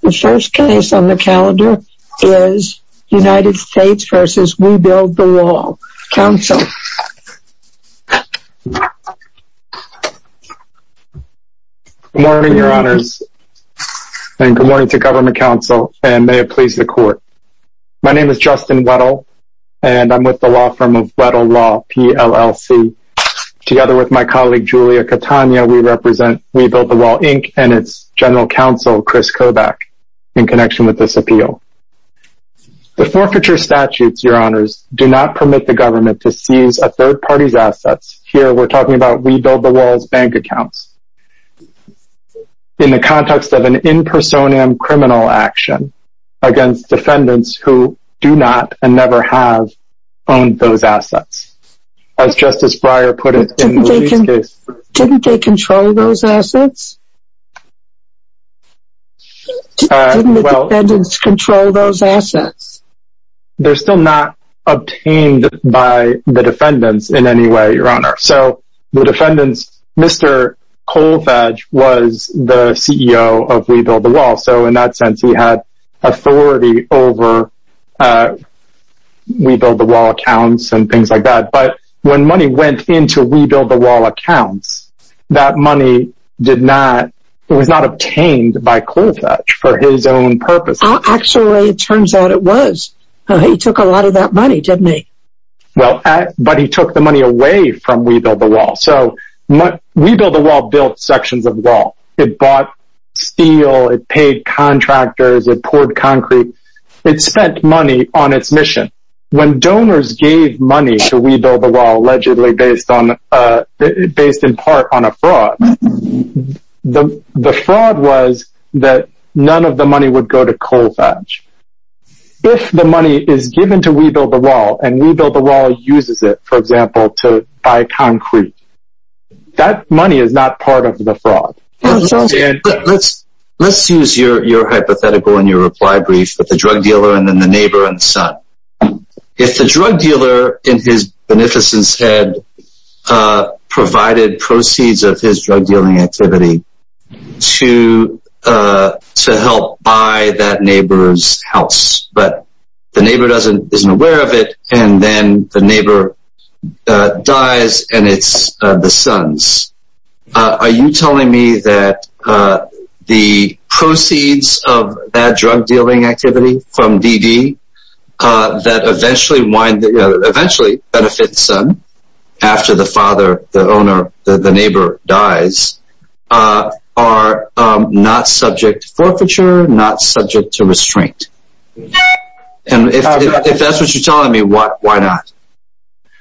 The first case on the calendar is United States v. We Build the Wall, Inc. Good morning, Your Honors, and good morning to Government Counsel, and may it please the Court. My name is Justin Weddle, and I'm with the law firm of Weddle Law, P-L-L-C. Together with my colleague, Julia Catania, we represent We Build the Wall, Inc., and its General Counsel, Chris Kobach, in connection with this appeal. The forfeiture statutes, Your Honors, do not permit the government to seize a third party's assets. Here, we're talking about We Build the Wall's bank accounts. In the context of an in personam criminal action against defendants who do not and never have owned those assets. As Justice Breyer put it in the case. Didn't they control those assets? Didn't the defendants control those assets? They're still not obtained by the defendants in any way, Your Honor. So, the defendants, Mr. Colfage was the CEO of We Build the Wall, so in that sense, he had authority over We Build the Wall accounts and things like that. But when money went into We Build the Wall accounts, that money was not obtained by Colfage for his own purposes. Actually, it turns out it was. He took a lot of that money, didn't he? But he took the money away from We Build the Wall. So, We Build the Wall built sections of wall. It bought steel, it paid contractors, it poured concrete. It spent money on its mission. When donors gave money to We Build the Wall, allegedly based in part on a fraud, the fraud was that none of the money would go to Colfage. If the money is given to We Build the Wall and We Build the Wall uses it, for example, to buy concrete, that money is not part of the fraud. Let's use your hypothetical and your reply brief with the drug dealer and then the neighbor and son. If the drug dealer, in his beneficence head, provided proceeds of his drug dealing activity to help buy that neighbor's house, but the neighbor isn't aware of it and then the neighbor dies and it's the son's. Are you telling me that the proceeds of that drug dealing activity from DD that eventually benefits the son, after the father, the owner, the neighbor dies, are not subject to forfeiture, not subject to restraint? If that's what you're telling me, why not?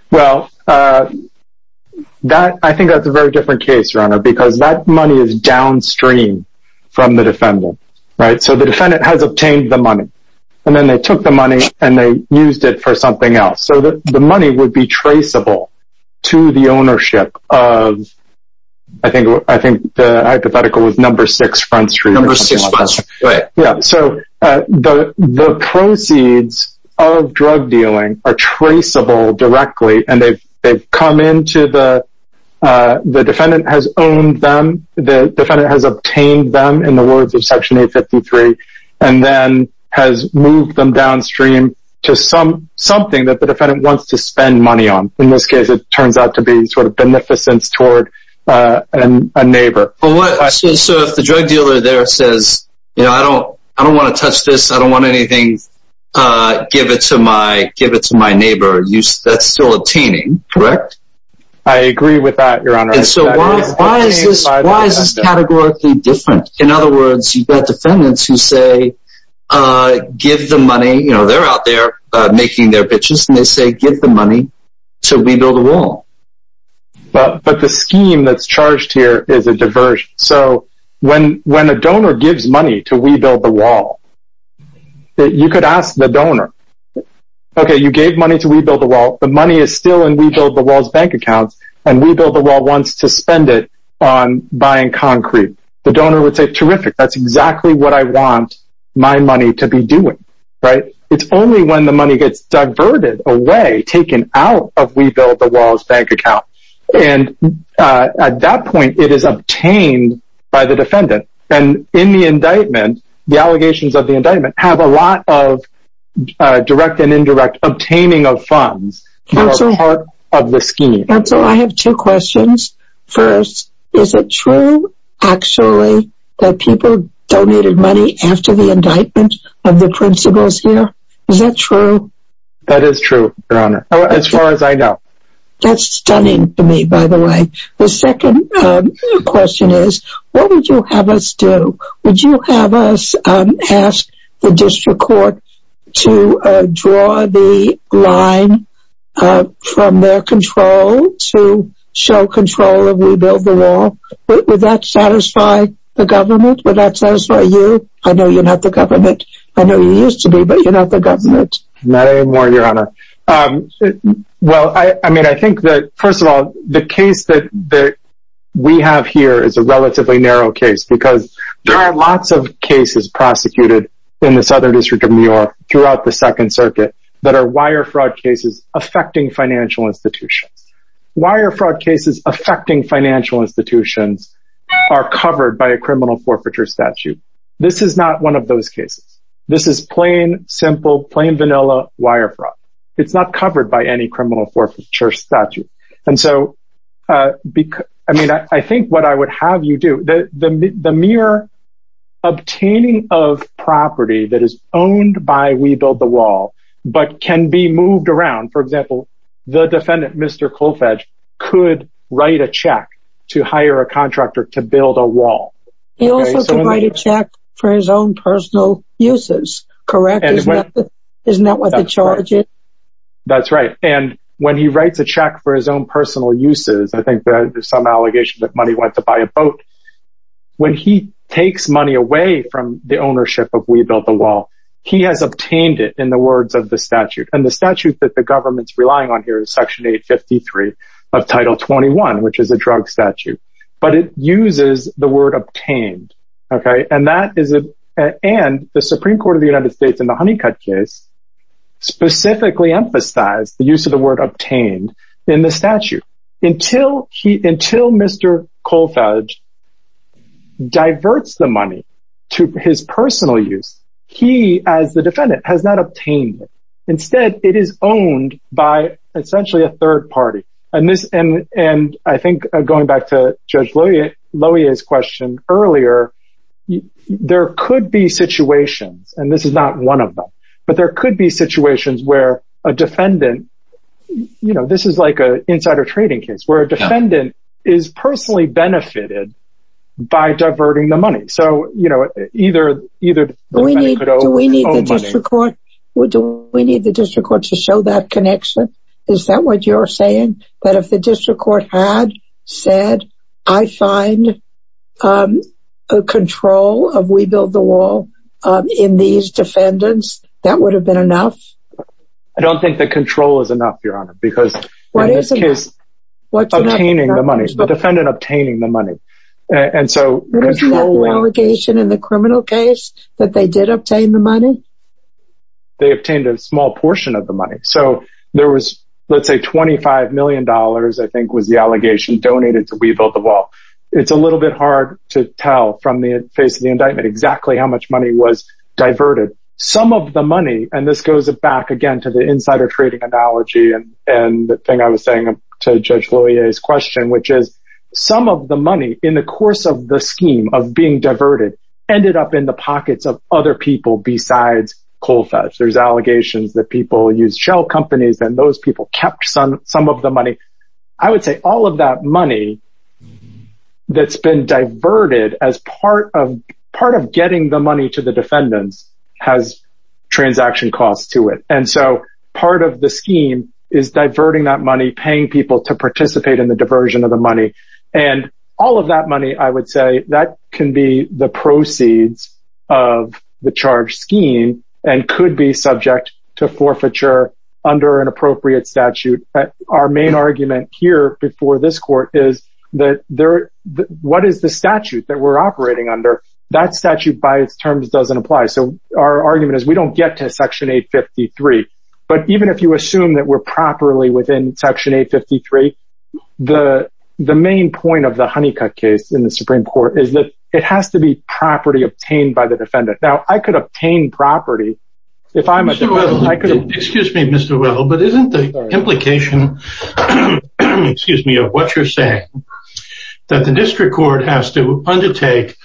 Well, I think that's a very different case, your honor, because that money is downstream from the defendant. So the defendant has obtained the money and then they took the money and they used it for something else. So the money would be traceable to the ownership of, I think the hypothetical was number six Front Street. Number six Front Street, right. Yeah, so the proceeds of drug dealing are traceable directly and they've come into the, the defendant has owned them, the defendant has obtained them in the words of Section 853, and then has moved them downstream to something that the defendant wants to spend money on. In this case, it turns out to be sort of beneficence toward a neighbor. So if the drug dealer there says, you know, I don't, I don't want to touch this, I don't want anything, give it to my neighbor, that's still obtaining, correct? I agree with that, your honor. So why is this categorically different? In other words, you've got defendants who say, give the money, you know, they're out there making their bitches and they say, give the money to rebuild the wall. But the scheme that's charged here is a diversion. So when, when a donor gives money to rebuild the wall, you could ask the donor. Okay, you gave money to rebuild the wall, the money is still in rebuild the wall's bank accounts, and rebuild the wall wants to spend it on buying concrete, the donor would say terrific, that's exactly what I want my money to be doing. Right? It's only when the money gets diverted away, taken out of rebuild the wall's bank account. And at that point, it is obtained by the defendant. And in the indictment, the allegations of the indictment have a lot of direct and indirect obtaining of funds. Counsel, I have two questions. First, is it true, actually, that people donated money after the indictment of the principals here? Is that true? That is true, your honor, as far as I know. That's stunning to me, by the way. The second question is, what would you have us do? Would you have us ask the district court to draw the line from their control to show control of rebuild the wall? Would that satisfy the government? Would that satisfy you? I know you're not the government. I know you used to be, but you're not the government. Not anymore, your honor. Well, I mean, I think that first of all, the case that we have here is a relatively narrow case, because there are lots of cases prosecuted in the Southern District of New York throughout the Second Circuit that are wire fraud cases affecting financial institutions. Wire fraud cases affecting financial institutions are covered by a criminal forfeiture statute. This is not one of those cases. This is plain, simple, plain vanilla wire fraud. It's not covered by any criminal forfeiture statute. And so, I mean, I think what I would have you do, the mere obtaining of property that is owned by We Build the Wall, but can be moved around, for example, the defendant, Mr. Kolfage, could write a check to hire a contractor to build a wall. He also can write a check for his own personal uses, correct? Isn't that what the charge is? That's right. And when he writes a check for his own personal uses, I think there's some allegations that money went to buy a boat. When he takes money away from the ownership of We Build the Wall, he has obtained it in the words of the statute. And the statute that the government's relying on here is Section 853 of Title 21, which is a drug statute, but it uses the word obtained. And the Supreme Court of the United States in the Honeycutt case specifically emphasized the use of the word obtained in the statute. Until Mr. Kolfage diverts the money to his personal use, he, as the defendant, has not obtained it. Instead, it is owned by essentially a third party. And I think going back to Judge Lohier's question earlier, there could be situations, and this is not one of them, but there could be situations where a defendant, you know, this is like an insider trading case, where a defendant is personally benefited by diverting the money. Do we need the district court to show that connection? Is that what you're saying? That if the district court had said, I find control of We Build the Wall in these defendants, that would have been enough? I don't think that control is enough, Your Honor, because in this case, obtaining the money, the defendant obtaining the money, and so… Isn't that the allegation in the criminal case that they did obtain the money? They obtained a small portion of the money. So there was, let's say, $25 million, I think, was the allegation donated to We Build the Wall. It's a little bit hard to tell from the face of the indictment exactly how much money was diverted. Some of the money, and this goes back again to the insider trading analogy and the thing I was saying to Judge Lohier's question, which is some of the money in the course of the scheme of being diverted ended up in the pockets of other people besides Colfax. There's allegations that people use shell companies and those people kept some of the money. I would say all of that money that's been diverted as part of getting the money to the defendants has transaction costs to it. And so part of the scheme is diverting that money, paying people to participate in the diversion of the money. And all of that money, I would say that can be the proceeds of the charge scheme and could be subject to forfeiture under an appropriate statute. Our main argument here before this court is that what is the statute that we're operating under? That statute by its terms doesn't apply. So our argument is we don't get to Section 853. But even if you assume that we're properly within Section 853, the main point of the Honeycutt case in the Supreme Court is that it has to be property obtained by the defendant. Now, I could obtain property if I'm a defendant. Excuse me, Mr. Well, but isn't the implication of what you're saying that the district court has to undertake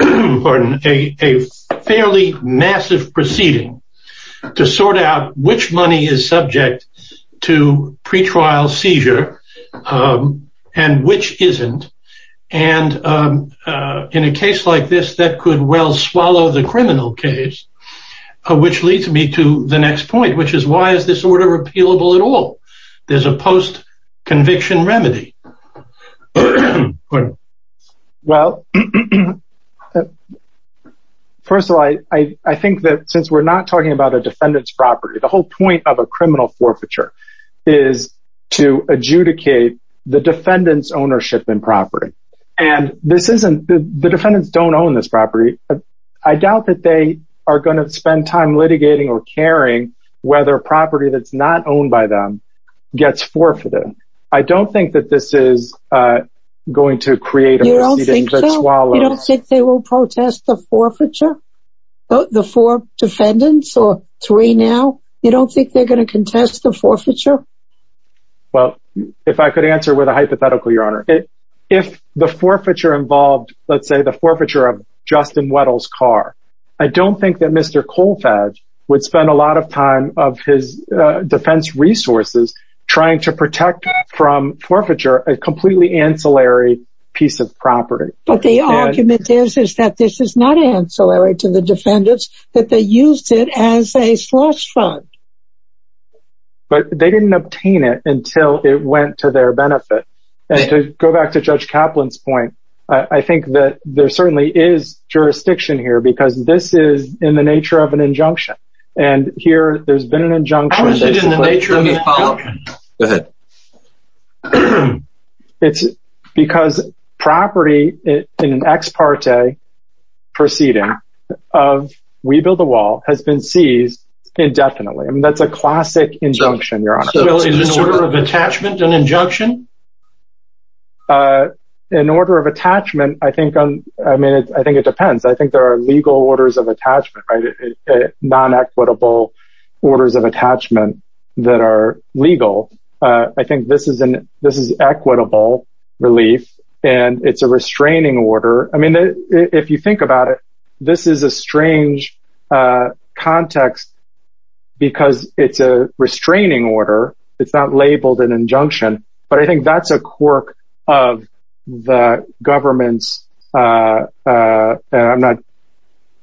a fairly massive proceeding to sort out which money is subject to pretrial seizure and which isn't? And in a case like this, that could well swallow the criminal case, which leads me to the next point, which is why is this order repealable at all? There's a post-conviction remedy. Well, first of all, I think that since we're not talking about a defendant's property, the whole point of a criminal forfeiture is to adjudicate the defendant's ownership and property. And the defendants don't own this property. I doubt that they are going to spend time litigating or caring whether a property that's not owned by them gets forfeited. I don't think that this is going to create a proceeding that swallows. You don't think so? You don't think they will protest the forfeiture? The four defendants or three now? You don't think they're going to contest the forfeiture? Well, if I could answer with a hypothetical, Your Honor. If the forfeiture involved, let's say, the forfeiture of Justin Weddle's car, I don't think that Mr. Colfage would spend a lot of time of his defense resources trying to protect from forfeiture a completely ancillary piece of property. But the argument is that this is not ancillary to the defendants, that they used it as a slush fund. But they didn't obtain it until it went to their benefit. And to go back to Judge Kaplan's point, I think that there certainly is jurisdiction here because this is in the nature of an injunction. How is it in the nature of an injunction? Go ahead. It's because property in an ex parte proceeding of We Build the Wall has been seized indefinitely. That's a classic injunction, Your Honor. So is an order of attachment an injunction? An order of attachment, I think, I mean, I think it depends. I think there are legal orders of attachment, non-equitable orders of attachment that are legal. I think this is an, this is equitable relief. And it's a restraining order. I mean, if you think about it, this is a strange context, because it's a restraining order. It's not labeled an injunction. But I think that's a quirk of the government's, I'm not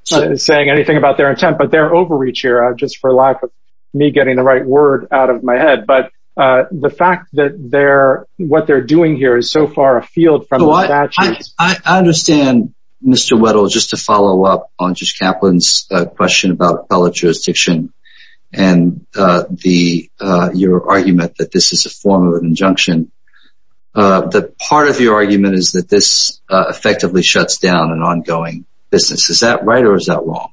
saying anything about their intent, but their overreach here, just for lack of me getting the right word out of my head. But the fact that they're, what they're doing here is so far afield from the statutes. I understand, Mr. Weddle, just to follow up on Judge Kaplan's question about appellate jurisdiction, and the, your argument that this is a form of an injunction. The part of your argument is that this effectively shuts down an ongoing business. Is that right? Or is that wrong?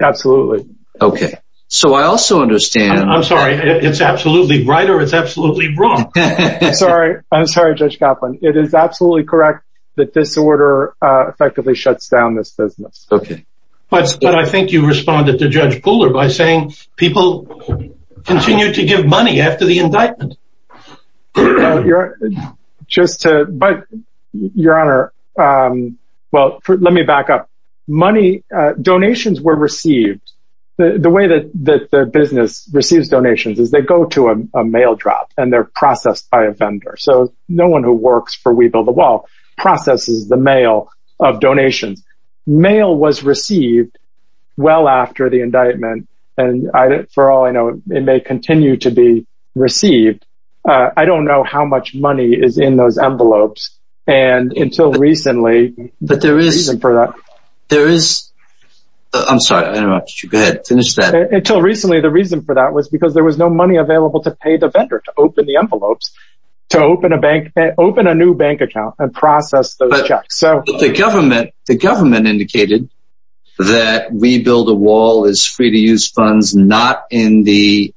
Absolutely. Okay. So I also understand. I'm sorry, it's absolutely right or it's absolutely wrong. Sorry, I'm sorry, Judge Kaplan. It is absolutely correct that this order effectively shuts down this business. Okay. But I think you responded to Judge Pooler by saying people continue to give money after the indictment. Just to, but, Your Honor, well, let me back up. Money, donations were received. The way that the business receives donations is they go to a mail drop and they're processed by a vendor. So no one who works for We Build the Wall processes the mail of donations. Mail was received well after the indictment. And I, for all I know, it may continue to be received. I don't know how much money is in those envelopes. And until recently, But there is, there is, I'm sorry, I interrupted you. Go ahead, finish that. Until recently, the reason for that was because there was no money available to pay the vendor to open the envelopes, to open a bank, open a new bank account and process those checks. The government, the government indicated that We Build the Wall is free to use funds, not in the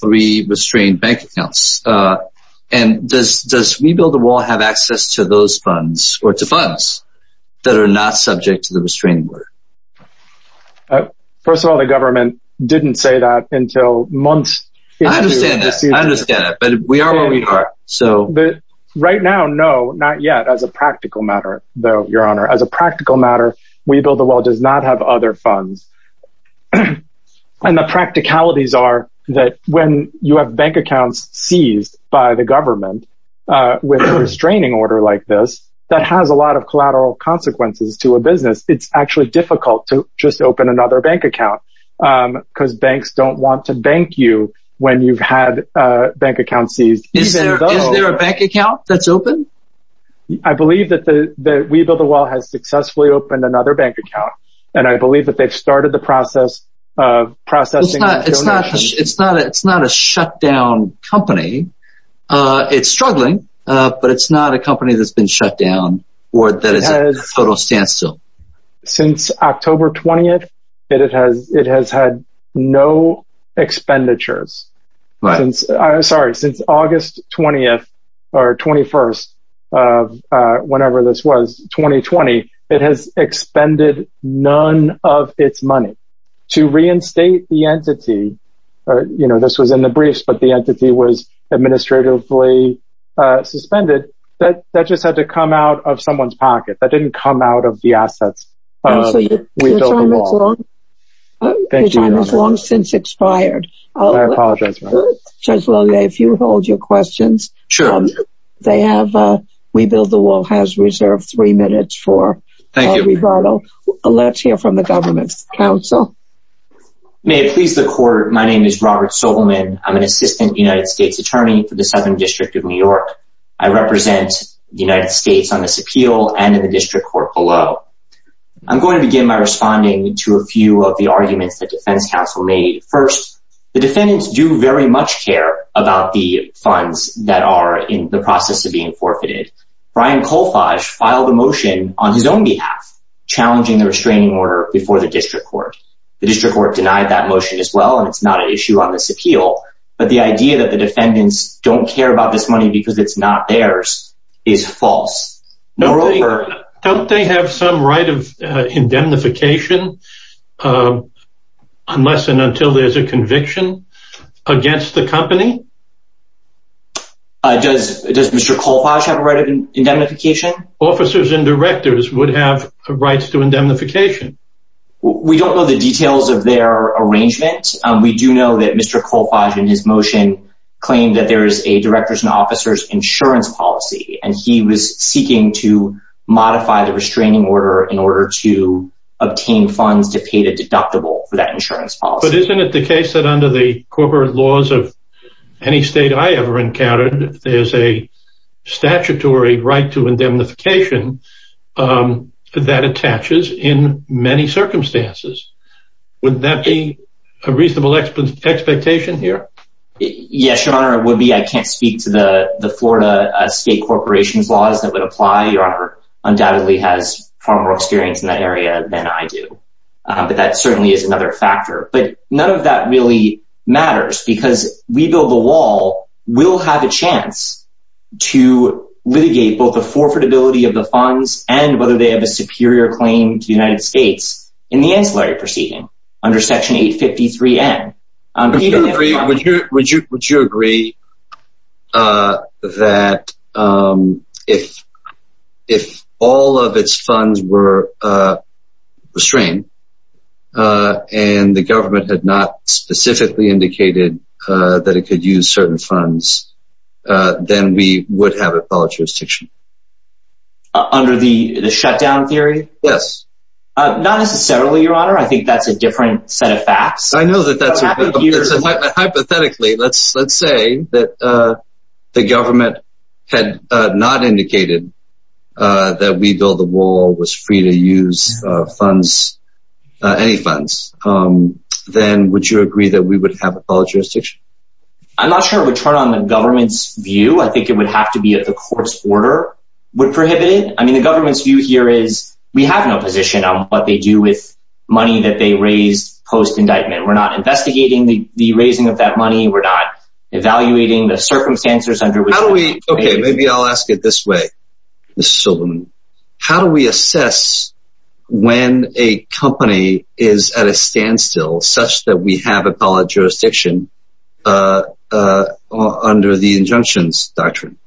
three restrained bank accounts. And does We Build the Wall have access to those funds or to funds that are not subject to the restraining order? First of all, the government didn't say that until months. I understand that. I understand that. But we are where we are. Right now, no, not yet. As a practical matter, though, Your Honor, as a practical matter, We Build the Wall does not have other funds. And the practicalities are that when you have bank accounts seized by the government with a restraining order like this, that has a lot of collateral consequences to a business. It's actually difficult to just open another bank account because banks don't want to bank you when you've had a bank account seized. Is there a bank account that's open? I believe that We Build the Wall has successfully opened another bank account. And I believe that they've started the process of processing. It's not it's not it's not it's not a shutdown company. It's struggling, but it's not a company that's been shut down or that is a total standstill. Since October 20th, it has it has had no expenditures since I'm sorry, since August 20th or 21st of whenever this was 2020. It has expended none of its money to reinstate the entity. You know, this was in the briefs, but the entity was administratively suspended. That just had to come out of someone's pocket. That didn't come out of the assets of We Build the Wall. Your time has long since expired. I apologize, Your Honor. Judge Loewe, if you hold your questions. Sure. They have We Build the Wall has reserved three minutes for rebuttal. Thank you. Let's hear from the government's counsel. May it please the court. My name is Robert Sobelman. I'm an assistant United States attorney for the Southern District of New York. I represent the United States on this appeal and in the district court below. I'm going to begin by responding to a few of the arguments that defense counsel made. First, the defendants do very much care about the funds that are in the process of being forfeited. Brian Kolfage filed a motion on his own behalf challenging the restraining order before the district court. The district court denied that motion as well, and it's not an issue on this appeal. But the idea that the defendants don't care about this money because it's not theirs is false. Don't they have some right of indemnification unless and until there's a conviction against the company? Does Mr. Kolfage have a right of indemnification? Officers and directors would have rights to indemnification. We don't know the details of their arrangement. We do know that Mr. Kolfage in his motion claimed that there is a directors and officers insurance policy, and he was seeking to modify the restraining order in order to obtain funds to pay the deductible for that insurance policy. But isn't it the case that under the corporate laws of any state I ever encountered, there's a statutory right to indemnification that attaches in many circumstances? Would that be a reasonable expectation here? Yes, Your Honor, it would be. I can't speak to the Florida state corporation's laws that would apply. Your Honor undoubtedly has far more experience in that area than I do. But that certainly is another factor. But none of that really matters because We Build the Wall will have a chance to litigate both the forfeitability of the funds and whether they have a superior claim to the United States in the ancillary proceeding under Section 853N. Would you agree that if all of its funds were restrained, and the government had not specifically indicated that it could use certain funds, then we would have a public jurisdiction? Under the shutdown theory? Yes. Not necessarily, Your Honor. I think that's a different set of facts. Hypothetically, let's say that the government had not indicated that We Build the Wall was free to use any funds, then would you agree that we would have a public jurisdiction? I'm not sure it would turn on the government's view. I think it would have to be that the court's order would prohibit it. I mean, the government's view here is we have no position on what they do with money that they raise post-indictment. We're not investigating the raising of that money. We're not evaluating the circumstances under which… Okay, maybe I'll ask it this way, Mr. Silverman. How do we assess when a company is at a standstill such that we have a public jurisdiction under the injunctions doctrine?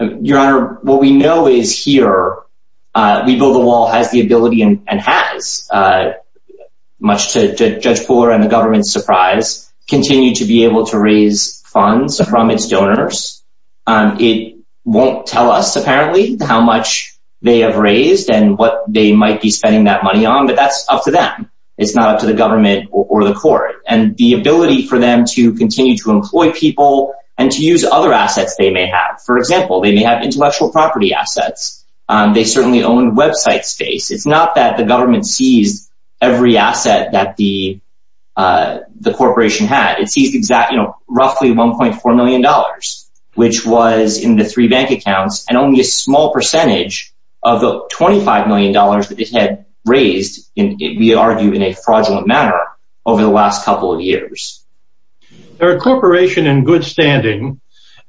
Your Honor, what we know is here, We Build the Wall has the ability and has, much to Judge Pooler and the government's surprise, continued to be able to raise funds from its donors. It won't tell us, apparently, how much they have raised and what they might be spending that money on, but that's up to them. It's not up to the government or the court. And the ability for them to continue to employ people and to use other assets they may have. For example, they may have intellectual property assets. They certainly own website space. It's not that the government seized every asset that the corporation had. It seized roughly $1.4 million, which was in the three bank accounts, and only a small percentage of the $25 million that it had raised, we argue, in a fraudulent manner over the last couple of years. They're a corporation in good standing,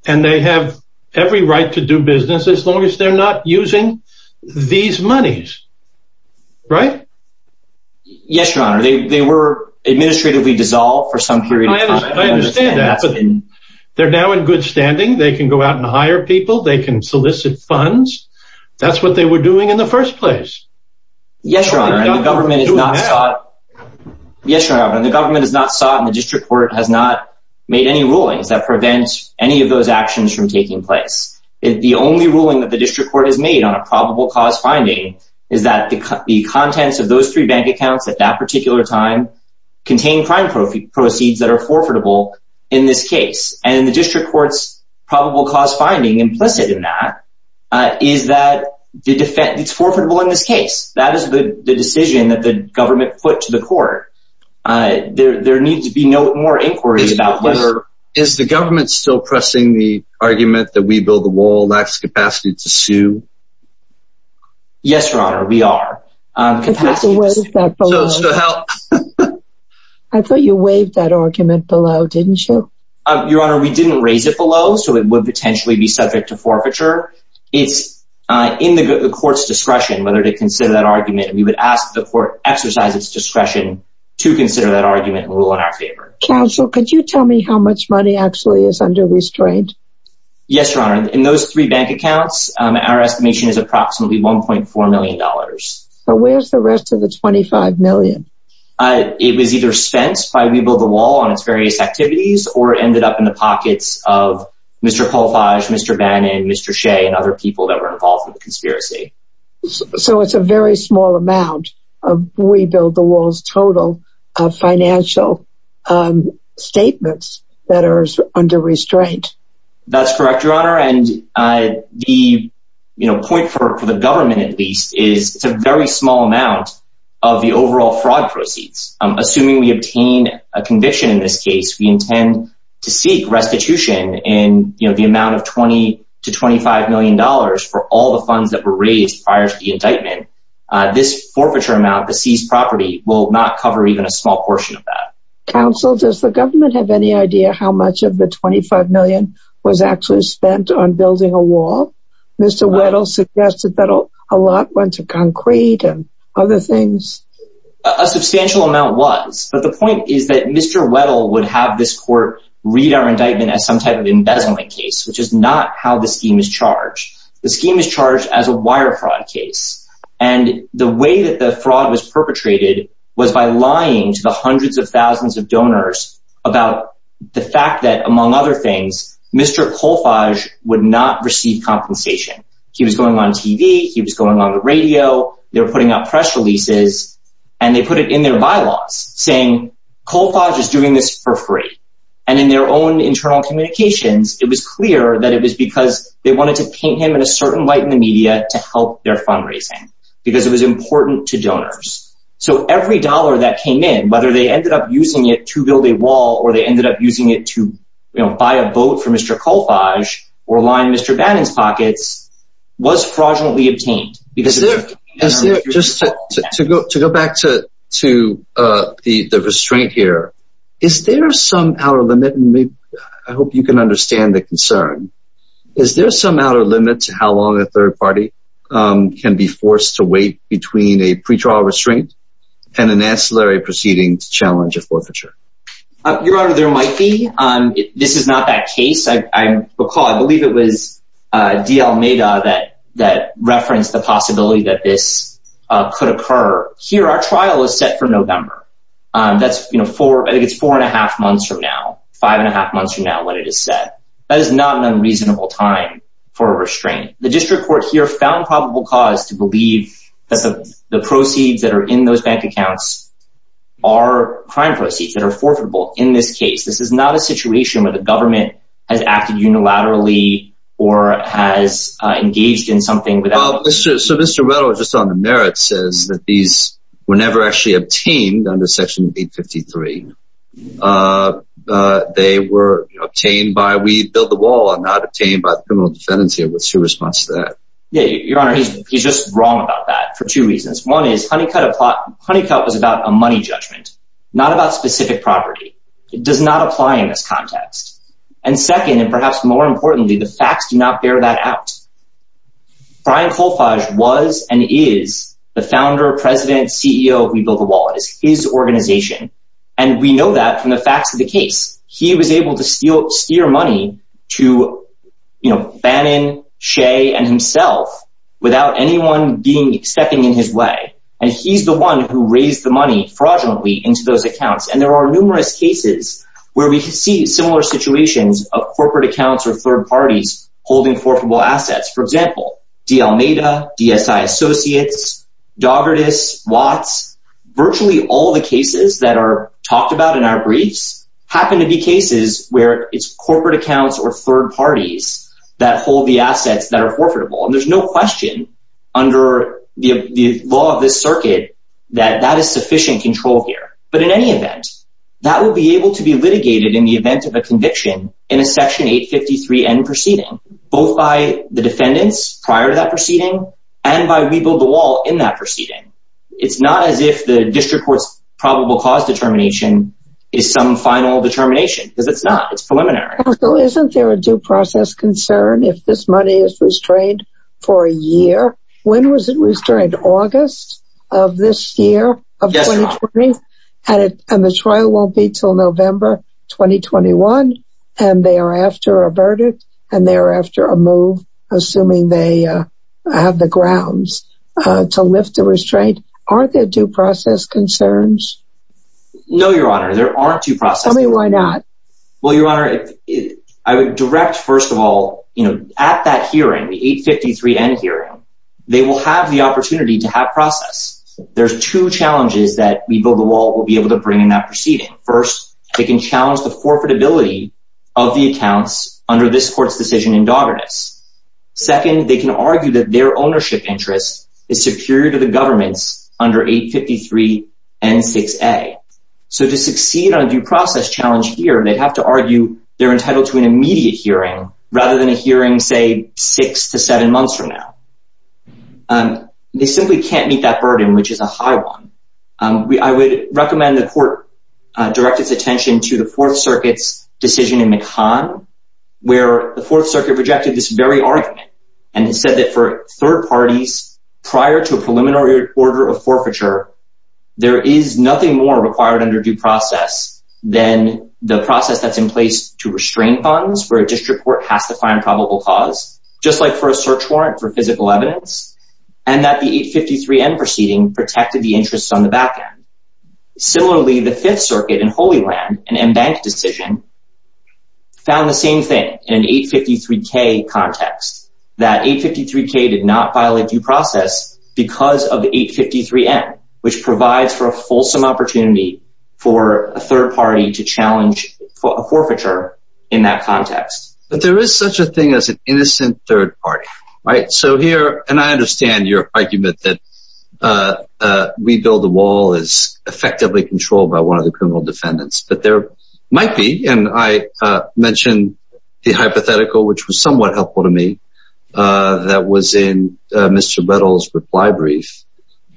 and they have every right to do business as long as they're not using these monies. Right? Yes, Your Honor. They were administratively dissolved for some period of time. I understand that, but they're now in good standing. They can go out and hire people. They can solicit funds. That's what they were doing in the first place. Yes, Your Honor. And the government is not sought, and the district court has not made any rulings that prevent any of those actions from taking place. The only ruling that the district court has made on a probable cause finding is that the contents of those three bank accounts at that particular time contain crime proceeds that are forfeitable in this case. And the district court's probable cause finding implicit in that is that it's forfeitable in this case. That is the decision that the government put to the court. There needs to be no more inquiry about whether— Is the government still pressing the argument that We Build the Wall lacks capacity to sue? Yes, Your Honor, we are. I thought you waived that argument below, didn't you? Your Honor, we didn't raise it below, so it would potentially be subject to forfeiture. It's in the court's discretion whether to consider that argument. We would ask the court exercise its discretion to consider that argument and rule in our favor. Counsel, could you tell me how much money actually is under restraint? Yes, Your Honor. In those three bank accounts, our estimation is approximately $1.4 million. But where's the rest of the $25 million? It was either spent by We Build the Wall on its various activities or ended up in the pockets of Mr. Polfage, Mr. Bannon, Mr. Shea, and other people that were involved in the conspiracy. So it's a very small amount of We Build the Wall's total financial statements that are under restraint. That's correct, Your Honor. The point for the government, at least, is it's a very small amount of the overall fraud proceeds. Assuming we obtain a conviction in this case, we intend to seek restitution in the amount of $20 to $25 million for all the funds that were raised prior to the indictment. This forfeiture amount, the seized property, will not cover even a small portion of that. Counsel, does the government have any idea how much of the $25 million was actually spent on building a wall? Mr. Weddle suggested that a lot went to concrete and other things. A substantial amount was. But the point is that Mr. Weddle would have this court read our indictment as some type of embezzlement case, which is not how the scheme is charged. The scheme is charged as a wire fraud case. And the way that the fraud was perpetrated was by lying to the hundreds of thousands of donors about the fact that, among other things, Mr. Colfage would not receive compensation. He was going on TV. He was going on the radio. They were putting out press releases, and they put it in their bylaws, saying, Colfage is doing this for free. And in their own internal communications, it was clear that it was because they wanted to paint him in a certain light in the media to help their fundraising, because it was important to donors. So every dollar that came in, whether they ended up using it to build a wall or they ended up using it to buy a boat for Mr. Colfage or line Mr. Bannon's pockets, was fraudulently obtained. To go back to the restraint here, is there some outer limit? I hope you can understand the concern. Is there some outer limit to how long a third party can be forced to wait between a pretrial restraint and an ancillary proceeding to challenge a forfeiture? Your Honor, there might be. This is not that case. I recall, I believe it was D.L. Meda that referenced the possibility that this could occur. Here, our trial is set for November. That's four and a half months from now, five and a half months from now when it is set. That is not an unreasonable time for a restraint. The district court here found probable cause to believe that the proceeds that are in those bank accounts are crime proceeds that are forfeitable. In this case, this is not a situation where the government has acted unilaterally or has engaged in something without— So Mr. Retto, just on the merits, says that these were never actually obtained under Section 853. They were obtained by We Build the Wall and not obtained by the criminal defendants here. What's your response to that? Your Honor, he's just wrong about that for two reasons. One is Honeycutt was about a money judgment, not about specific property. It does not apply in this context. And second, and perhaps more importantly, the facts do not bear that out. Brian Colfage was and is the founder, president, CEO of We Build the Wall. It is his organization. And we know that from the facts of the case. He was able to steer money to Bannon, Shea, and himself without anyone stepping in his way. And he's the one who raised the money fraudulently into those accounts. And there are numerous cases where we see similar situations of corporate accounts or third parties holding forfeitable assets. For example, D. Almeida, DSI Associates, Daugherty's, Watts. Virtually all the cases that are talked about in our briefs happen to be cases where it's corporate accounts or third parties that hold the assets that are forfeitable. And there's no question under the law of this circuit that that is sufficient control here. But in any event, that will be able to be litigated in the event of a conviction in a Section 853N proceeding. Both by the defendants prior to that proceeding and by We Build the Wall in that proceeding. It's not as if the district court's probable cause determination is some final determination. Because it's not. It's preliminary. So isn't there a due process concern if this money is restrained for a year? When was it restrained? August of this year? Yes, Your Honor. And the trial won't be until November 2021. And they are after a verdict and they are after a move, assuming they have the grounds to lift the restraint. Aren't there due process concerns? No, Your Honor. There aren't due process concerns. Tell me why not. Well, Your Honor, I would direct first of all, you know, at that hearing, the 853N hearing, they will have the opportunity to have process. There's two challenges that We Build the Wall will be able to bring in that proceeding. First, they can challenge the forfeitability of the accounts under this court's decision in Dogerness. Second, they can argue that their ownership interest is superior to the government's under 853N6A. So to succeed on due process challenge here, they'd have to argue they're entitled to an immediate hearing rather than a hearing, say, six to seven months from now. They simply can't meet that burden, which is a high one. I would recommend the court direct its attention to the Fourth Circuit's decision in McCann, where the Fourth Circuit rejected this very argument and said that for third parties prior to a preliminary order of forfeiture, there is nothing more required under due process than the process that's in place to restrain funds for a district court has to find probable cause, just like for a search warrant for physical evidence, and that the 853N proceeding protected the interest on the back end. Similarly, the Fifth Circuit in Holy Land, an embanked decision, found the same thing in an 853K context, that 853K did not violate due process because of 853N, which provides for a fulsome opportunity for a third party to challenge forfeiture in that context. But there is such a thing as an innocent third party, right? So here, and I understand your argument that we build the wall is effectively controlled by one of the criminal defendants, but there might be, and I mentioned the hypothetical, which was somewhat helpful to me, that was in Mr. Bettle's reply brief.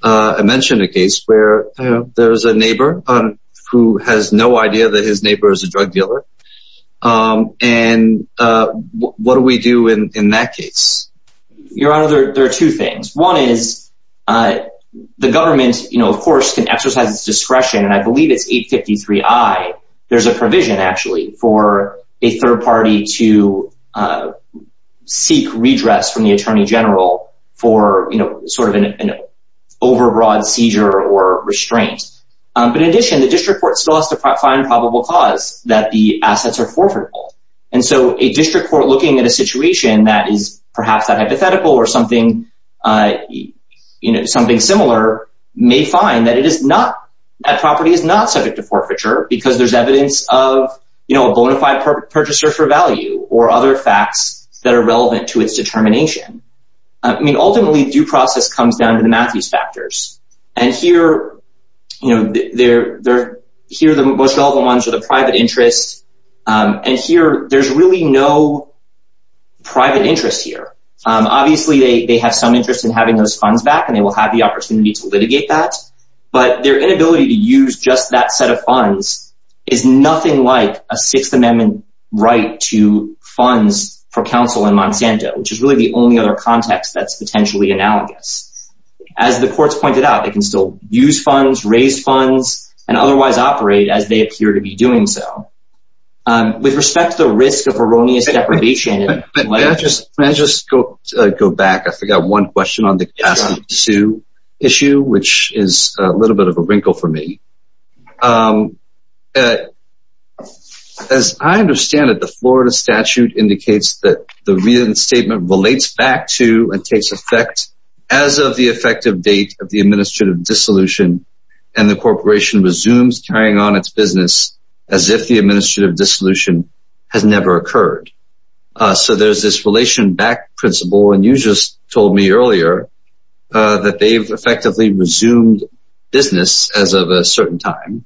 I mentioned a case where there's a neighbor who has no idea that his neighbor is a drug dealer. And what do we do in that case? Your Honor, there are two things. One is the government, of course, can exercise its discretion, and I believe it's 853I, there's a provision actually for a third party to seek redress from the Attorney General for sort of an overbroad seizure or restraint. But in addition, the district court still has to find probable cause that the assets are forfeitable. And so a district court looking at a situation that is perhaps not hypothetical or something similar may find that it is not, that property is not subject to forfeiture because there's evidence of, you know, a bona fide purchaser for value or other facts that are relevant to its determination. I mean, ultimately, due process comes down to the Matthews factors. And here, you know, here the most relevant ones are the private interest, and here there's really no private interest here. Obviously, they have some interest in having those funds back, and they will have the opportunity to litigate that. But their inability to use just that set of funds is nothing like a Sixth Amendment right to funds for counsel in Monsanto, which is really the only other context that's potentially analogous. As the courts pointed out, they can still use funds, raise funds, and otherwise operate as they appear to be doing so. With respect to the risk of erroneous deprivation. Can I just go back? I forgot one question on the capacity to sue issue, which is a little bit of a wrinkle for me. As I understand it, the Florida statute indicates that the reinstatement relates back to and takes effect as of the effective date of the administrative dissolution, and the corporation resumes carrying on its business as if the administrative dissolution has never occurred. So there's this relation back principle, and you just told me earlier that they've effectively resumed business as of a certain time.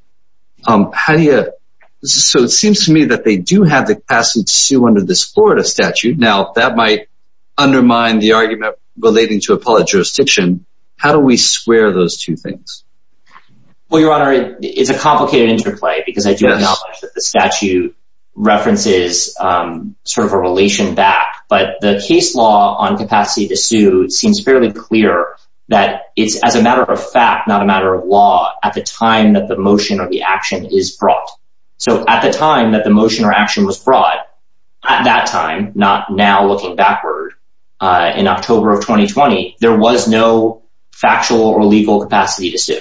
So it seems to me that they do have the capacity to sue under this Florida statute. Now, that might undermine the argument relating to appellate jurisdiction. How do we square those two things? Well, Your Honor, it's a complicated interplay because I do acknowledge that the statute references sort of a relation back. But the case law on capacity to sue seems fairly clear that it's as a matter of fact, not a matter of law at the time that the motion or the action is brought. So at the time that the motion or action was brought at that time, not now looking backward in October of 2020, there was no factual or legal capacity to sue.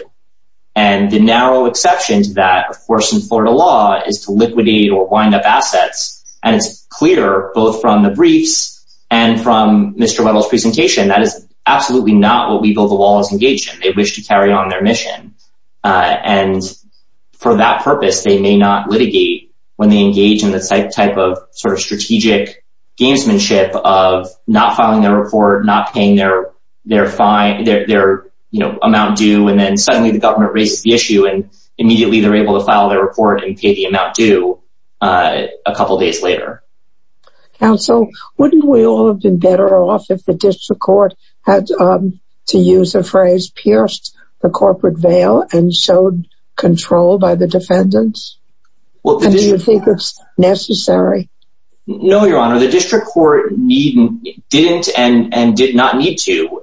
And the narrow exception to that, of course, in Florida law is to liquidate or wind up assets. And it's clear both from the briefs and from Mr. Weddle's presentation, that is absolutely not what We Build the Wall is engaged in. They wish to carry on their mission. And for that purpose, they may not litigate when they engage in this type of sort of strategic gamesmanship of not filing their report, not paying their amount due. And then suddenly the government raises the issue and immediately they're able to file their report and pay the amount due a couple of days later. Counsel, wouldn't we all have been better off if the district court had, to use a phrase, pierced the corporate veil and showed control by the defendants? Do you think it's necessary? No, Your Honor, the district court didn't and did not need to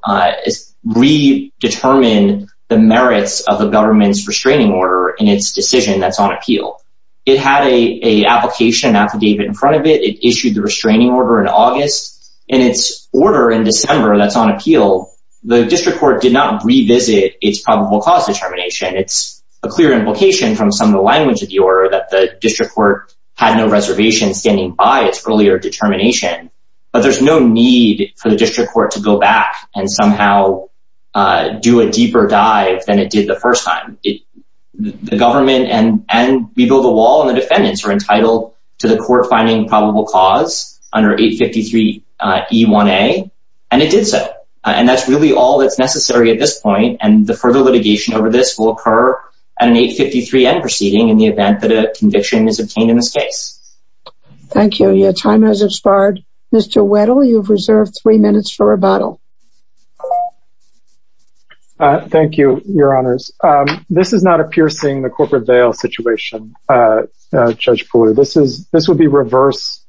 redetermine the merits of the government's restraining order in its decision that's on appeal. It had a application affidavit in front of it. It issued the restraining order in August and its order in December that's on appeal. The district court did not revisit its probable cause determination. It's a clear implication from some of the language of the order that the district court had no reservation standing by its earlier determination. But there's no need for the district court to go back and somehow do a deeper dive than it did the first time. The government and we build a wall and the defendants are entitled to the court finding probable cause under 853E1A. And it did so. And that's really all that's necessary at this point. And the further litigation over this will occur at an 853N proceeding in the event that a conviction is obtained in this case. Thank you. Your time has expired. Mr. Weddle, you've reserved three minutes for rebuttal. Thank you, Your Honors. This is not a piercing the corporate veil situation, Judge Pooler. This would be reverse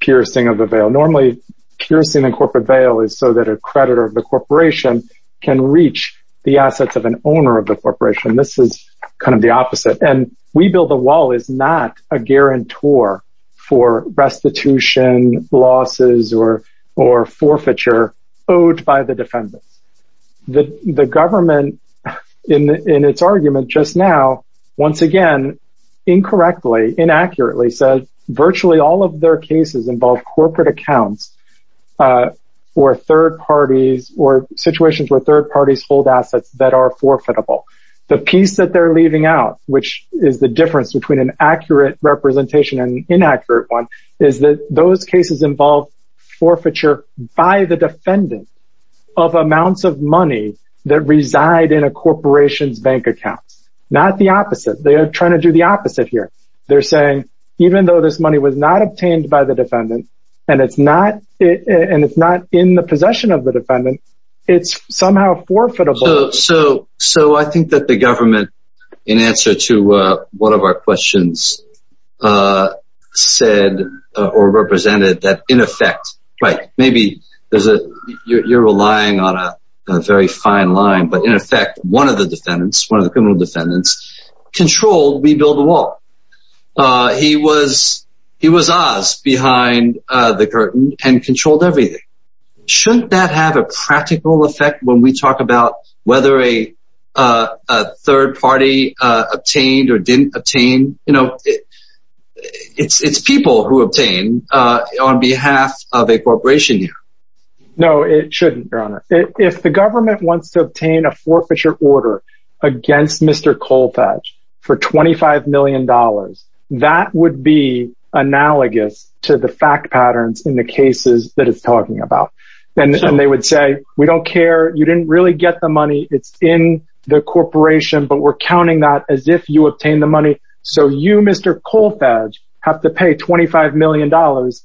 piercing of the veil. Normally, piercing the corporate veil is so that a creditor of the corporation can reach the assets of an owner of the corporation. This is kind of the opposite. And we build a wall is not a guarantor for restitution losses or forfeiture owed by the defendants. The government in its argument just now, once again, incorrectly, inaccurately said virtually all of their cases involve corporate accounts or third parties or situations where third parties hold assets that are forfeitable. The piece that they're leaving out, which is the difference between an accurate representation and an inaccurate one, is that those cases involve forfeiture by the defendant of amounts of money that reside in a corporation's bank accounts. Not the opposite. They are trying to do the opposite here. They're saying even though this money was not obtained by the defendant and it's not in the possession of the defendant, it's somehow forfeitable. So I think that the government, in answer to one of our questions, said or represented that in effect, right, maybe you're relying on a very fine line, but in effect, one of the defendants, one of the criminal defendants, controlled we build a wall. He was Oz behind the curtain and controlled everything. Shouldn't that have a practical effect when we talk about whether a third party obtained or didn't obtain? You know, it's people who obtain on behalf of a corporation. No, it shouldn't. Your Honor, if the government wants to obtain a forfeiture order against Mr. Colfax for $25 million, that would be analogous to the fact patterns in the cases that it's talking about. And they would say, we don't care. You didn't really get the money. It's in the corporation. But we're counting that as if you obtain the money. So you, Mr. Colfax, have to pay $25 million,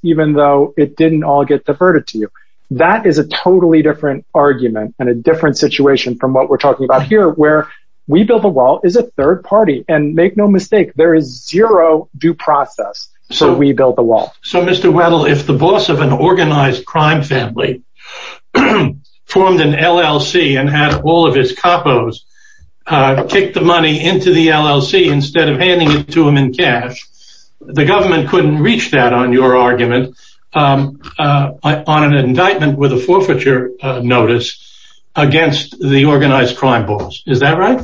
even though it didn't all get diverted to you. That is a totally different argument and a different situation from what we're talking about here, where we build a wall is a third party. And make no mistake, there is zero due process. So we built the wall. So, Mr. Weddle, if the boss of an organized crime family formed an LLC and had all of his capos kick the money into the LLC instead of handing it to him in cash, the government couldn't reach that on your argument on an indictment with a forfeiture notice against the organized crime boss. Is that right?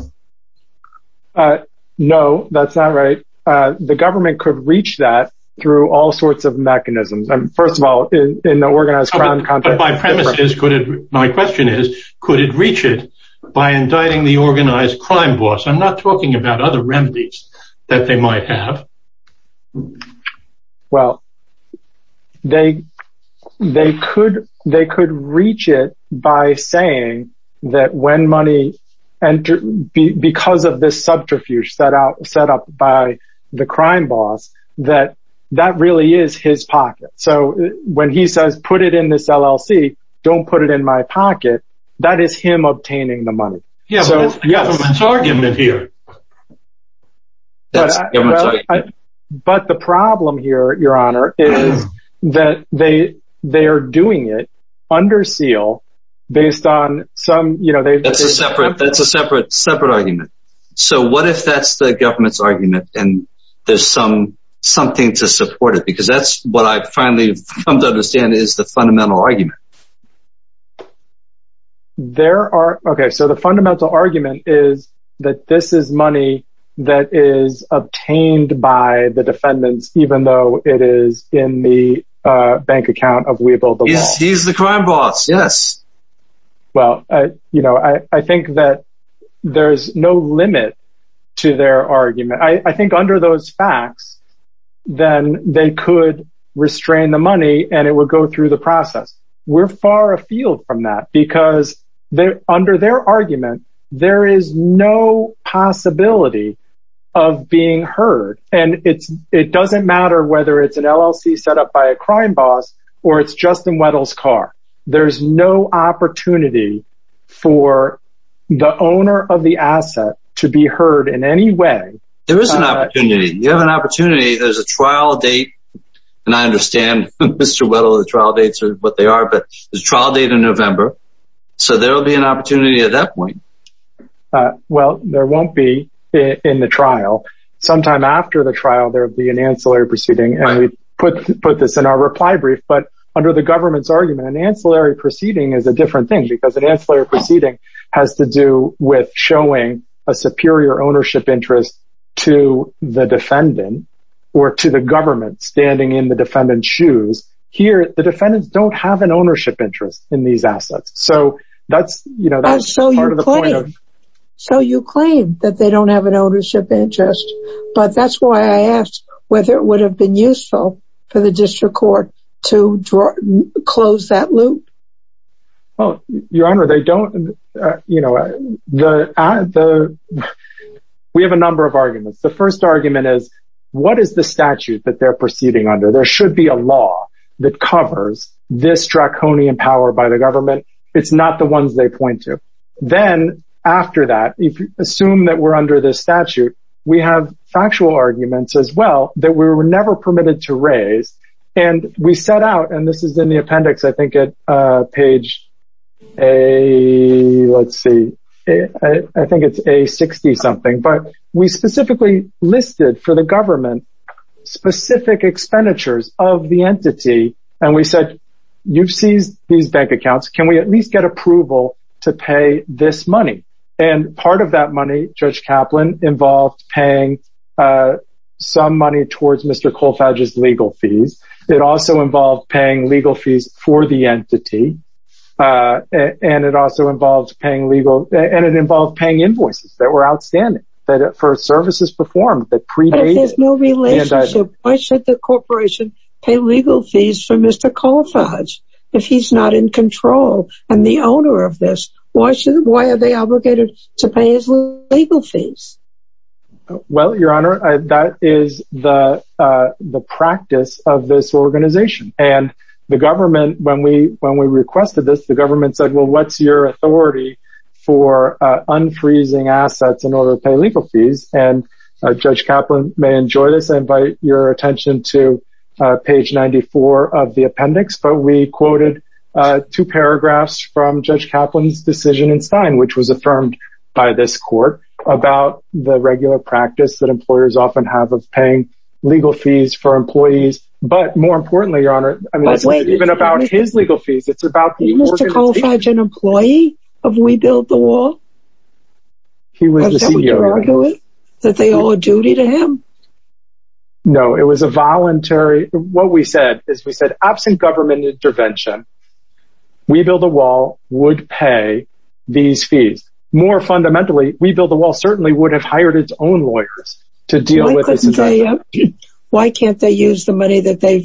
No, that's not right. The government could reach that through all sorts of mechanisms. First of all, in the organized crime context. But my premise is, my question is, could it reach it by indicting the organized crime boss? I'm not talking about other remedies that they might have. Well, they they could they could reach it by saying that when money and because of this subterfuge set out set up by the crime boss, that that really is his pocket. So when he says, put it in this LLC, don't put it in my pocket. That is him obtaining the money. Yes, yes. That's the government's argument here. But the problem here, Your Honor, is that they they are doing it under seal based on some, you know, That's a separate, that's a separate, separate argument. So what if that's the government's argument and there's some something to support it? Because that's what I finally come to understand is the fundamental argument. There are. OK, so the fundamental argument is that this is money that is obtained by the defendants, even though it is in the bank account of Weibull. He's the crime boss. Yes. Well, you know, I think that there is no limit to their argument. I think under those facts, then they could restrain the money and it would go through the process. We're far afield from that because they're under their argument. There is no possibility of being heard. And it's it doesn't matter whether it's an LLC set up by a crime boss or it's Justin Weddle's car. There's no opportunity for the owner of the asset to be heard in any way. There is an opportunity. You have an opportunity. There's a trial date. And I understand, Mr. Weddle, the trial dates are what they are. But the trial date in November. So there will be an opportunity at that point. Well, there won't be in the trial. Sometime after the trial, there will be an ancillary proceeding. And we put this in our reply brief. But under the government's argument, an ancillary proceeding is a different thing because an ancillary proceeding has to do with showing a superior ownership interest to the defendant or to the government standing in the defendant's shoes. Here, the defendants don't have an ownership interest in these assets. So that's, you know, that's part of the point. So you claim that they don't have an ownership interest. But that's why I asked whether it would have been useful for the district court to close that loop. Your Honor, they don't. You know, we have a number of arguments. The first argument is what is the statute that they're proceeding under? There should be a law that covers this draconian power by the government. It's not the ones they point to. Then after that, if you assume that we're under this statute, we have factual arguments as well that we were never permitted to raise. And we set out, and this is in the appendix, I think, at page A, let's see, I think it's A60 something. But we specifically listed for the government specific expenditures of the entity. And we said, you've seized these bank accounts. Can we at least get approval to pay this money? And part of that money, Judge Kaplan, involved paying some money towards Mr. Colfage's legal fees. And it also involves paying legal, and it involved paying invoices that were outstanding for services performed. But if there's no relationship, why should the corporation pay legal fees for Mr. Colfage? If he's not in control and the owner of this, why are they obligated to pay his legal fees? Well, Your Honor, that is the practice of this organization. And the government, when we requested this, the government said, well, what's your authority for unfreezing assets in order to pay legal fees? And Judge Kaplan may enjoy this. I invite your attention to page 94 of the appendix. But we quoted two paragraphs from Judge Kaplan's decision in Stein, which was affirmed by this court, about the regular practice that employers often have of paying legal fees for employees. But more importantly, Your Honor, even about his legal fees, it's about the organization. Was Mr. Colfage an employee of We Build the Wall? He was the CEO. Would you argue that they owe a duty to him? No, it was a voluntary. What we said is we said, absent government intervention, We Build the Wall would pay these fees. More fundamentally, We Build the Wall certainly would have hired its own lawyers to deal with this. Why can't they use the money that they're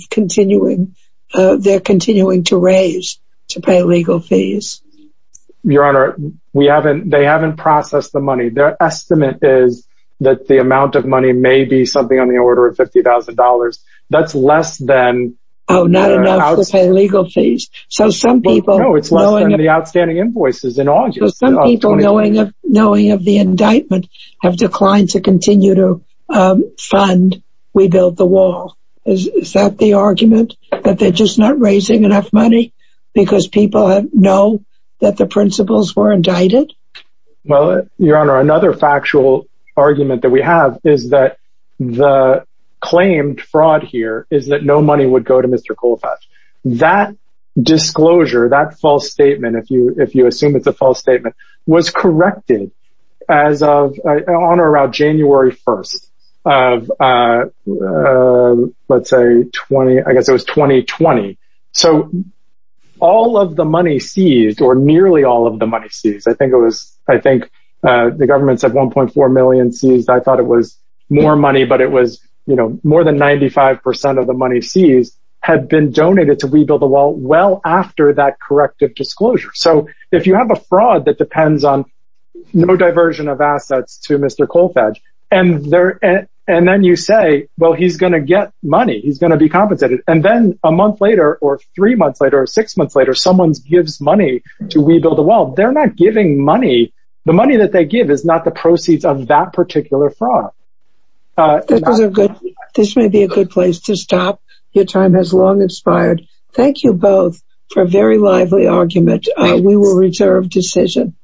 continuing to raise to pay legal fees? Your Honor, they haven't processed the money. Their estimate is that the amount of money may be something on the order of $50,000. That's less than... Oh, not enough to pay legal fees. No, it's less than the outstanding invoices in August. So some people, knowing of the indictment, have declined to continue to fund We Build the Wall. Is that the argument, that they're just not raising enough money because people know that the principals were indicted? Well, Your Honor, another factual argument that we have is that the claimed fraud here is that no money would go to Mr. Colfage. That disclosure, that false statement, if you assume it's a false statement, was corrected on or around January 1st of, let's say, I guess it was 2020. So all of the money seized or nearly all of the money seized, I think the government said 1.4 million seized. I thought it was more money, but it was more than 95% of the money seized had been donated to We Build the Wall well after that corrective disclosure. So if you have a fraud that depends on no diversion of assets to Mr. Colfage, and then you say, well, he's going to get money. He's going to be compensated. And then a month later or three months later or six months later, someone gives money to We Build the Wall. They're not giving money. The money that they give is not the proceeds of that particular fraud. This may be a good place to stop. Your time has long expired. Thank you both for a very lively argument. We will reserve decision.